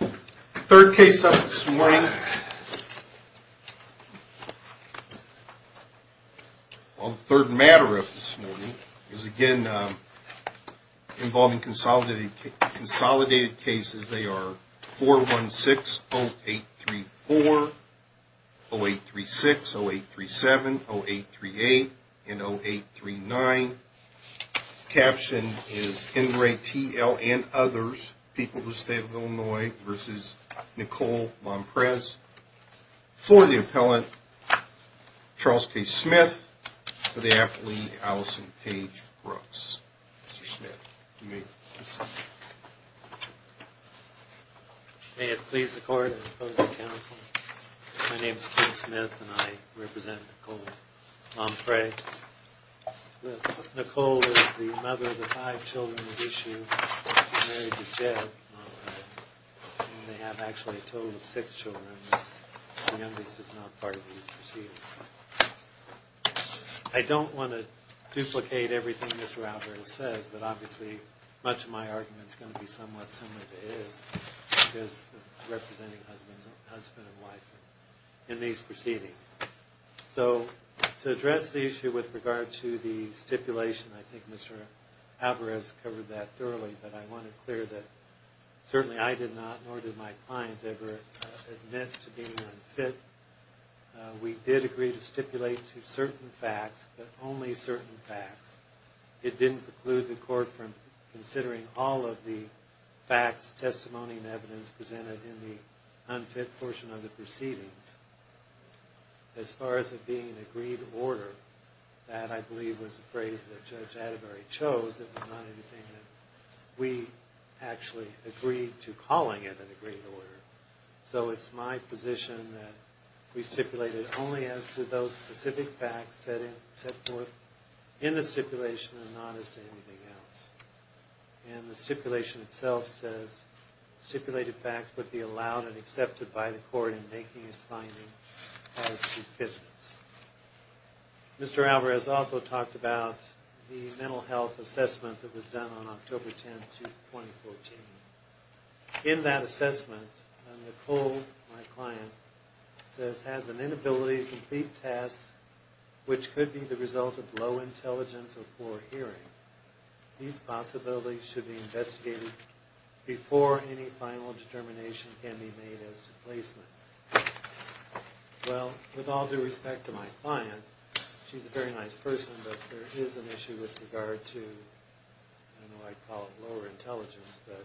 The third case up this morning, well the third matter up this morning is again involving consolidated cases. They are 416-0834, 0836, 0837, 0838, and 0839. Caption is Henry T.L. and others, people of the state of Illinois, versus Nicole Lomprez. For the appellant, Charles K. Smith. For the appellant, Allison Paige Brooks. Mr. Smith, you may proceed. May it please the court, I propose a count. My name is Clint Smith and I represent Nicole Lomprez. Nicole is the mother of the five children of this year. She's married to Jed. They have actually a total of six children. The youngest is not part of these proceedings. I don't want to duplicate everything Mr. Alvarez says, but obviously much of my argument is going to be somewhat similar to his. Because representing husband and wife in these proceedings. So to address the issue with regard to the stipulation, I think Mr. Alvarez covered that thoroughly. But I want to clear that certainly I did not, nor did my client ever, admit to being unfit. We did agree to stipulate to certain facts, but only certain facts. It didn't preclude the court from considering all of the facts, testimony, and evidence presented in the unfit portion of the proceedings. As far as it being an agreed order, that I believe was the phrase that Judge Atterbury chose. It was not anything that we actually agreed to calling it an agreed order. So it's my position that we stipulated only as to those specific facts set forth in the stipulation and not as to anything else. And the stipulation itself says stipulated facts would be allowed and accepted by the court in making its findings positive evidence. Mr. Alvarez also talked about the mental health assessment that was done on October 10, 2014. In that assessment, Nicole, my client, says has an inability to complete tasks which could be the result of low intelligence or poor hearing. These possibilities should be investigated before any final determination can be made as to placement. Well, with all due respect to my client, she's a very nice person, but there is an issue with regard to, I don't know why I call it lower intelligence, but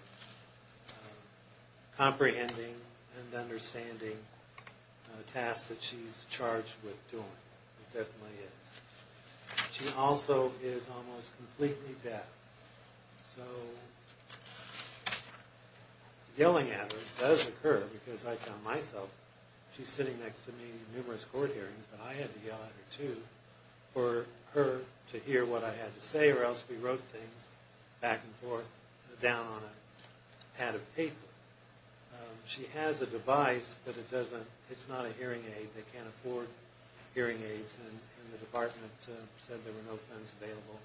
comprehending and understanding tasks that she's charged with doing. She also is almost completely deaf. So yelling at her does occur because I found myself, she's sitting next to me in numerous court hearings, but I had to yell at her too, for her to hear what I had to say or else we wrote things back and forth down on a pad of paper. She has a device, but it's not a hearing aid. They can't afford hearing aids and the department said there were no funds available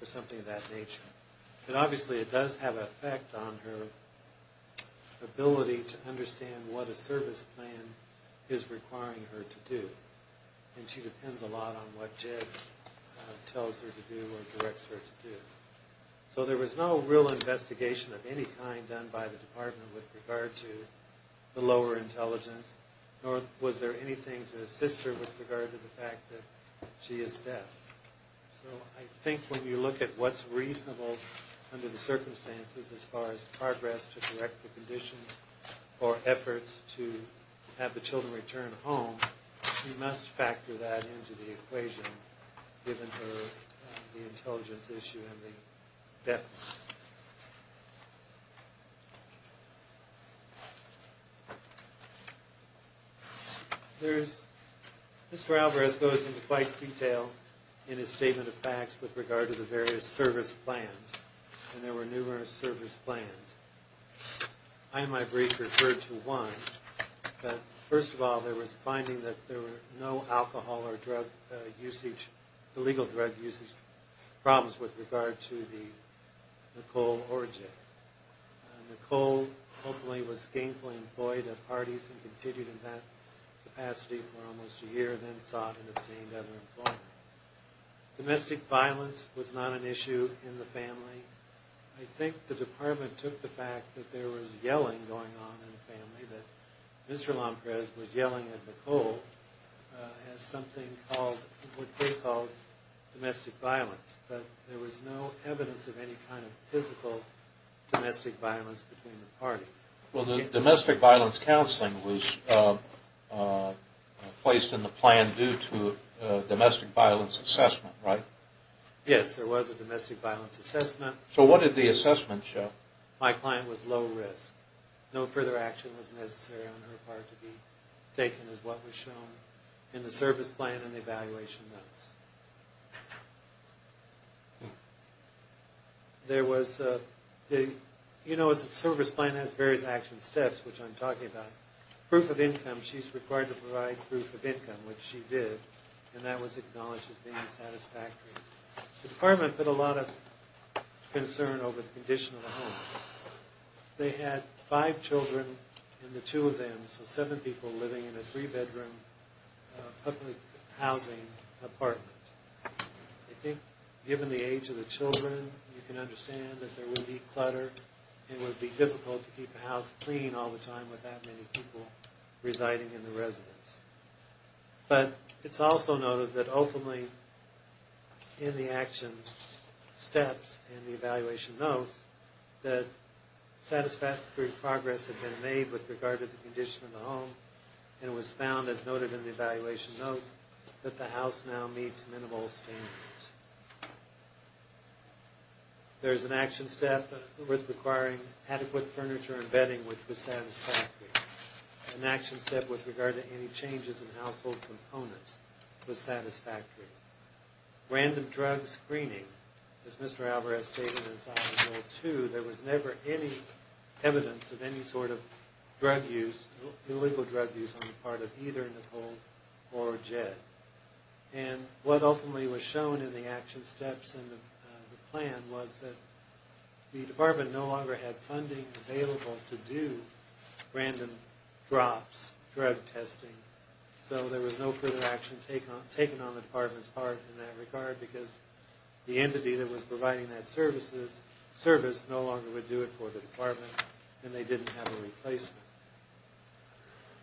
for something of that nature. But obviously it does have an effect on her ability to understand what a service plan is requiring her to do. And she depends a lot on what JED tells her to do or directs her to do. So there was no real investigation of any kind done by the department with regard to the lower intelligence, nor was there anything to assist her with regard to the fact that she is deaf. So I think when you look at what's reasonable under the circumstances as far as progress to correct the conditions or efforts to have the children return home, you must factor that into the equation, given her the intelligence issue and the deafness. Mr. Alvarez goes into quite detail in his statement of facts with regard to the various service plans, and there were numerous service plans. I, in my brief, referred to one. First of all, there was a finding that there were no alcohol or drug usage, illegal drug usage problems with regard to the Nicole origin. Nicole, hopefully, was gainfully employed at Hardee's and continued in that capacity for almost a year and then sought and obtained other employment. Domestic violence was not an issue in the family. I think the department took the fact that there was yelling going on in the family, that Mr. Lomprez was yelling at Nicole, as something called, what they called, domestic violence. But there was no evidence of any kind of physical domestic violence between the parties. Well, the domestic violence counseling was placed in the plan due to domestic violence assessment, right? Yes, there was a domestic violence assessment. So what did the assessment show? My client was low risk. No further action was necessary on her part to be taken, as what was shown in the service plan and the evaluation notes. There was, you know, a service plan has various action steps, which I'm talking about. Proof of income, she's required to provide proof of income, which she did, and that was acknowledged as being satisfactory. The department put a lot of concern over the condition of the home. They had five children in the two of them, so seven people living in a three-bedroom public housing apartment. I think given the age of the children, you can understand that there would be clutter and it would be difficult to keep the house clean all the time with that many people residing in the residence. But it's also noted that ultimately in the action steps in the evaluation notes that satisfactory progress had been made with regard to the condition of the home, and it was found, as noted in the evaluation notes, that the house now meets minimal standards. There's an action step with requiring adequate furniture and bedding, which was satisfactory. An action step with regard to any changes in household components was satisfactory. Random drug screening. As Mr. Alvarez stated in his op-ed, too, there was never any evidence of any sort of drug use, illegal drug use on the part of either Nicole or Jed. And what ultimately was shown in the action steps in the plan was that the department no longer had funding available to do random drops, drug testing, so there was no further action taken on the department's part in that regard because the entity that was providing that service no longer would do it for the department and they didn't have a replacement.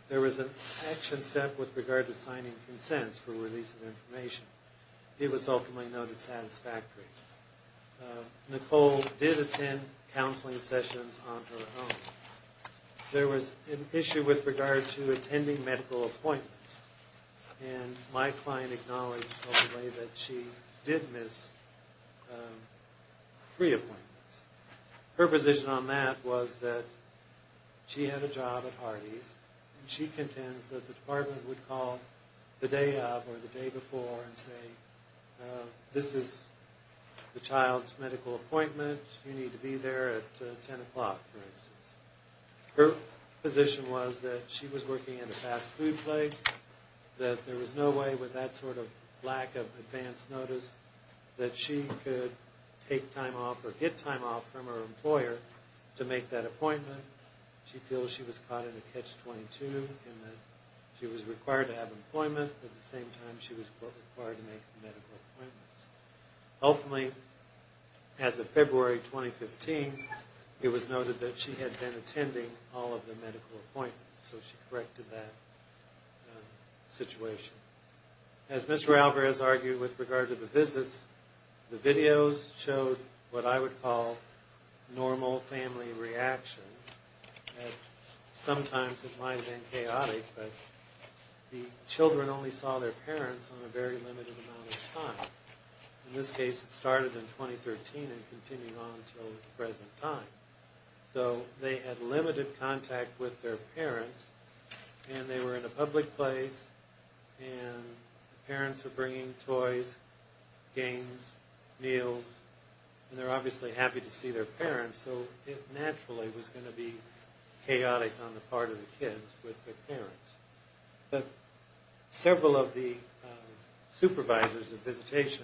There was an action step with regard to signing consents for release of information. It was ultimately noted satisfactory. Nicole did attend counseling sessions on her own. There was an issue with regard to attending medical appointments, and my client acknowledged, hopefully, that she did miss three appointments. Her position on that was that she had a job at Hardee's and she contends that the department would call the day of or the day before and say, this is the child's medical appointment. You need to be there at 10 o'clock, for instance. Her position was that she was working in a fast food place, that there was no way with that sort of lack of advance notice that she could take time off or get time off from her employer to make that appointment. She feels she was caught in a catch-22 in that she was required to have employment at the same time she was required to make medical appointments. Ultimately, as of February 2015, it was noted that she had been attending all of the medical appointments, so she corrected that situation. As Mr. Alvarez argued with regard to the visits, the videos showed what I would call normal family reaction. Sometimes it might have been chaotic, but the children only saw their parents on a very limited amount of time. In this case, it started in 2013 and continued on until the present time. So they had limited contact with their parents, and they were in a public place, and the parents were bringing toys, games, meals, and they were obviously happy to see their parents, so it naturally was going to be chaotic on the part of the kids with their parents. But several of the supervisors of visitation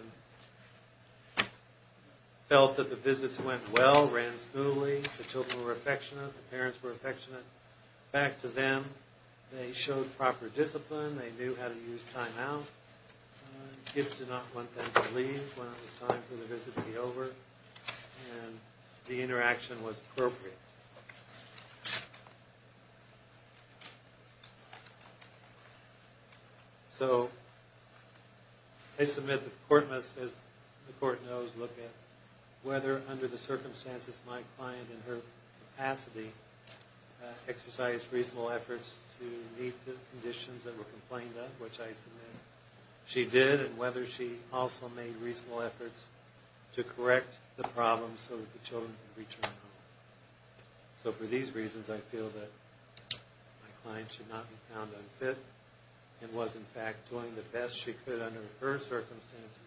felt that the visits went well, ran smoothly, the children were affectionate, the parents were affectionate. Back to them, they showed proper discipline, they knew how to use time out. Kids did not want them to leave when it was time for the visit to be over. And the interaction was appropriate. So I submit that the court must, as the court knows, look at whether under the circumstances my client in her capacity exercised reasonable efforts to meet the conditions that were complained of, which I submit she did, and whether she also made reasonable efforts to correct the problems so that the children could return home. So for these reasons, I feel that my client should not be found unfit and was, in fact, doing the best she could under her circumstances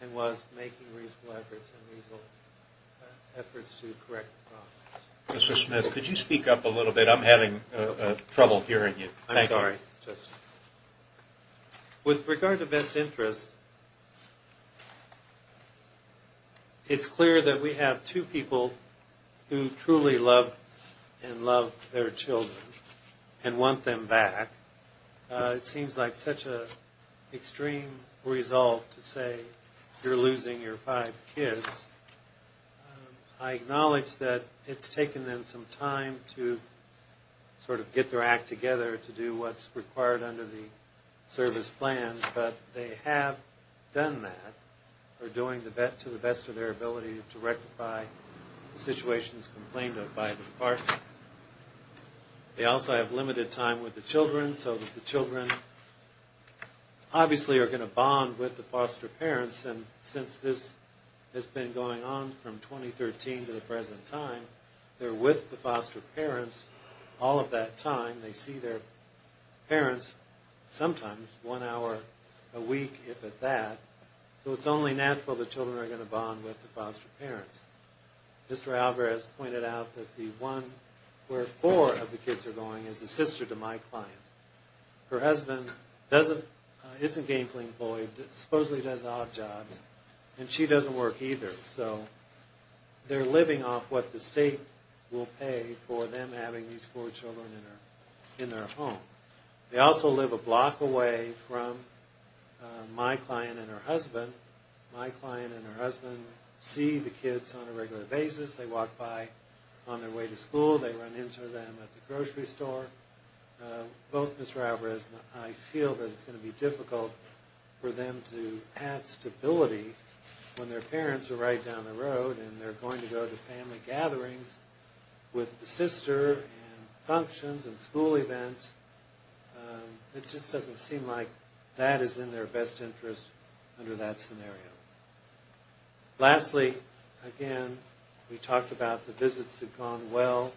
and was making reasonable efforts to correct the problems. Mr. Smith, could you speak up a little bit? I'm having trouble hearing you. I'm sorry. Thank you, Justice. With regard to best interest, it's clear that we have two people who truly love and love their children and want them back. It seems like such an extreme result to say you're losing your five kids. I acknowledge that it's taken them some time to sort of get their act together to do what's required under the service plan, but they have done that, are doing to the best of their ability to rectify the situations complained of by the department. They also have limited time with the children, so the children obviously are going to bond with the foster parents, and since this has been going on from 2013 to the present time, they're with the foster parents all of that time. They see their parents sometimes one hour a week, if at that, so it's only natural the children are going to bond with the foster parents. Mr. Alvarez pointed out that the one where four of the kids are going is a sister to my client. Her husband isn't a gainful employee, supposedly does odd jobs, and she doesn't work either, so they're living off what the state will pay for them having these four children in their home. They also live a block away from my client and her husband. My client and her husband see the kids on a regular basis. They walk by on their way to school. They run into them at the grocery store. Both Mr. Alvarez and I feel that it's going to be difficult for them to have stability when their parents are right down the road and they're going to go to family gatherings with the sister and functions and school events. It just doesn't seem like that is in their best interest under that scenario. Lastly, again, we talked about the visits have gone well.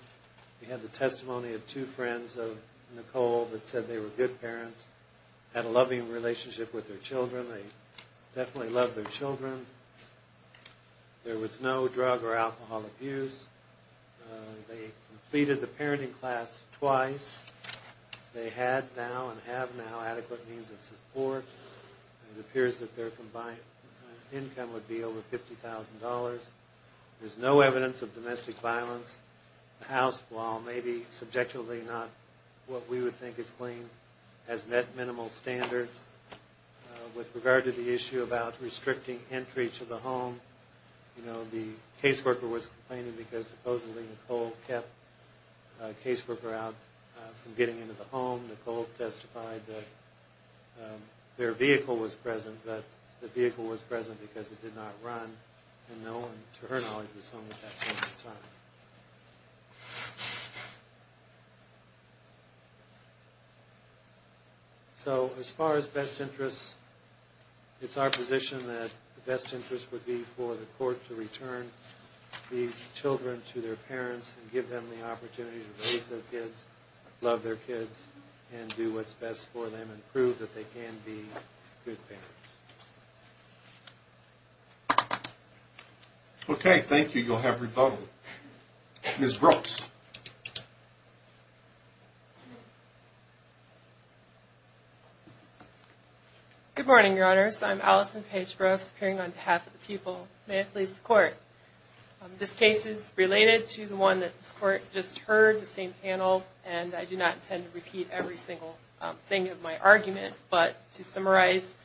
We had the testimony of two friends of Nicole that said they were good parents, had a loving relationship with their children. They definitely loved their children. There was no drug or alcohol abuse. They completed the parenting class twice. They had now and have now adequate means of support. It appears that their combined income would be over $50,000. There's no evidence of domestic violence. The house, while maybe subjectively not what we would think is clean, has met minimal standards. With regard to the issue about restricting entry to the home, the caseworker was complaining because supposedly Nicole kept a caseworker out from getting into the home. Nicole testified that their vehicle was present, but the vehicle was present because it did not run. No one, to her knowledge, was home at that point in time. So as far as best interests, it's our position that the best interest would be for the court to return these children to their parents and give them the opportunity to raise their kids, love their kids, and do what's best for them and prove that they can be good parents. Okay, thank you. You'll have rebuttal. Ms. Brooks. Good morning, Your Honors. I'm Allison Paige Brooks, appearing on behalf of the people. May it please the Court. This case is related to the one that this Court just heard, the same panel, and I do not intend to repeat every single thing of my argument. But to summarize,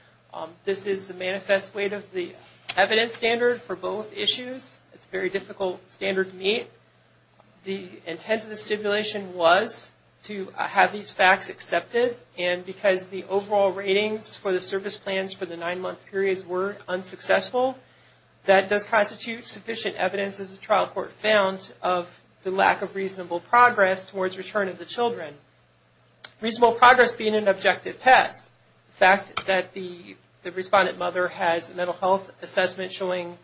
this is the manifest weight of the evidence standard for both issues. It's a very difficult standard to meet. The intent of the stipulation was to have these facts accepted, and because the overall ratings for the service plans for the nine-month periods were unsuccessful, that does constitute sufficient evidence, as the trial court found, of the lack of reasonable progress towards return of the children. Reasonable progress being an objective test. The fact that the respondent mother has a mental health assessment showing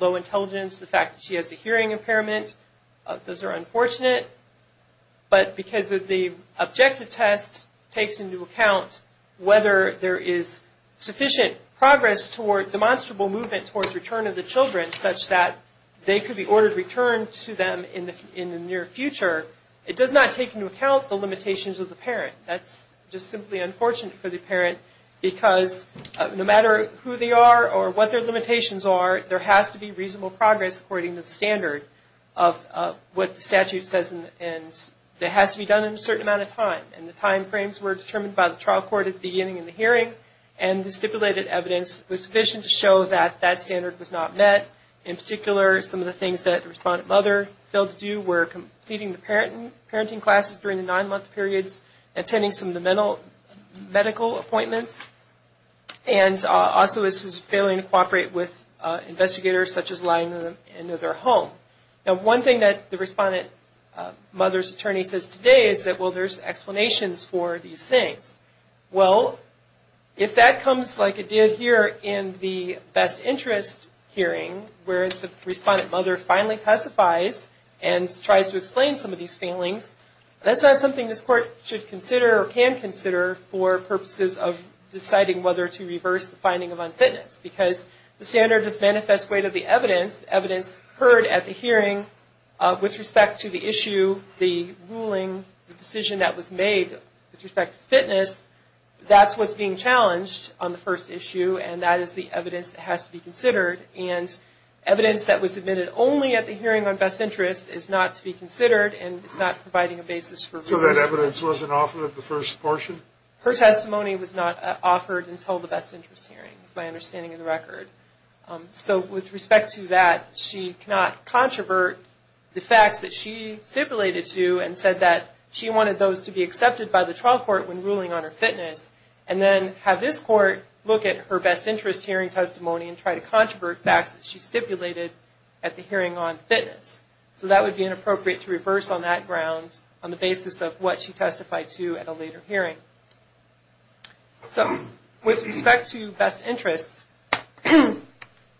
low intelligence, the fact that she has a hearing impairment, those are unfortunate. But because the objective test takes into account whether there is sufficient progress toward demonstrable movement towards return of the children, such that they could be ordered return to them in the near future, it does not take into account the limitations of the parent. That's just simply unfortunate for the parent, because no matter who they are or what their limitations are, there has to be reasonable progress, according to the standard of what the statute says, and it has to be done in a certain amount of time. And the timeframes were determined by the trial court at the beginning of the hearing, and the stipulated evidence was sufficient to show that that standard was not met. In particular, some of the things that the respondent mother failed to do were completing the parenting classes during the nine-month periods, attending some of the medical appointments, and also was failing to cooperate with investigators, such as lying in their home. Now, one thing that the respondent mother's attorney says today is that, well, there's explanations for these things. Well, if that comes like it did here in the best interest hearing, where the respondent mother finally testifies and tries to explain some of these failings, that's not something this court should consider or can consider for purposes of deciding whether to reverse the finding of unfitness. Because the standard does manifest great of the evidence, evidence heard at the hearing with respect to the issue, the ruling, the decision that was made with respect to fitness, that's what's being challenged on the first issue, and that is the evidence that has to be considered. And evidence that was submitted only at the hearing on best interest is not to be considered and is not providing a basis for review. So that evidence wasn't offered at the first portion? Her testimony was not offered until the best interest hearing, is my understanding of the record. So with respect to that, she cannot controvert the facts that she stipulated to and said that she wanted those to be accepted by the trial court when ruling on her fitness and then have this court look at her best interest hearing testimony and try to controvert facts that she stipulated at the hearing on fitness. So that would be inappropriate to reverse on that ground on the basis of what she testified to at a later hearing. So with respect to best interests,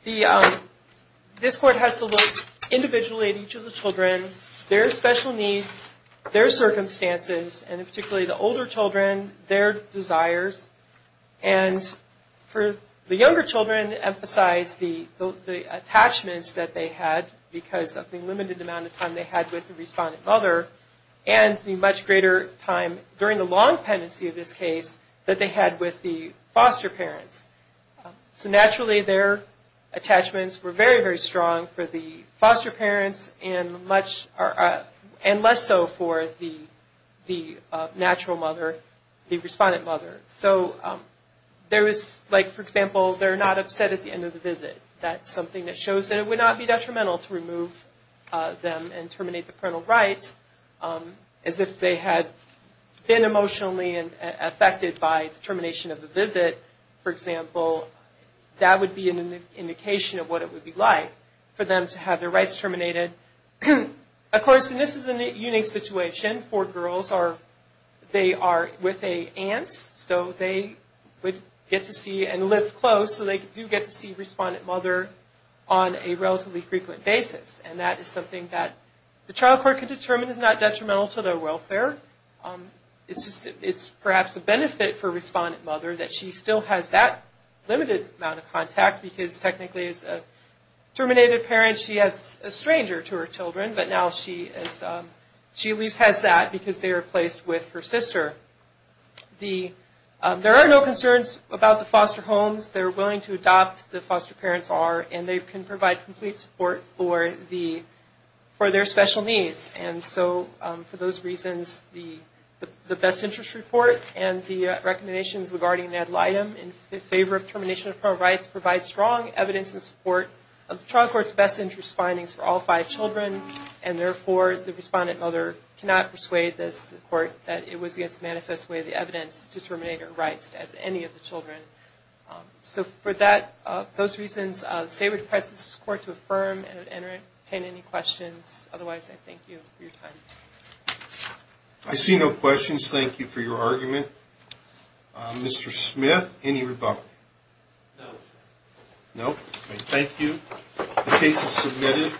this court has to look individually at each of the children, their special needs, their circumstances, and particularly the older children, their desires. And the younger children emphasize the attachments that they had because of the limited amount of time they had with the respondent mother and the much greater time during the long pendency of this case that they had with the foster parents. So naturally their attachments were very, very strong for the foster parents and less so for the natural mother, the respondent mother. So there is, like for example, they're not upset at the end of the visit. That's something that shows that it would not be detrimental to remove them and terminate the parental rights. As if they had been emotionally affected by the termination of the visit, for example, that would be an indication of what it would be like for them to have their rights terminated. Of course, and this is a unique situation for girls. They are with an aunt, so they would get to see and live close, so they do get to see the respondent mother on a relatively frequent basis. And that is something that the trial court can determine is not detrimental to their welfare. It's perhaps a benefit for respondent mother that she still has that limited amount of contact because technically as a terminated parent she has a stranger to her children, but now she at least has that because they are placed with her sister. There are no concerns about the foster homes. They're willing to adopt, the foster parents are, and they can provide complete support for their special needs. And so for those reasons, the best interest report and the recommendations regarding the ad litem in favor of termination of parental rights provide strong evidence in support of the trial court's best interest findings for all five children. And therefore, the respondent mother cannot persuade the court that it was against the manifest way of the evidence to terminate her rights as any of the children. So for those reasons, I would say request this court to affirm and entertain any questions. Otherwise, I thank you for your time. I see no questions. Thank you for your argument. Mr. Smith, any rebuttal? No. No. Thank you. The case is submitted.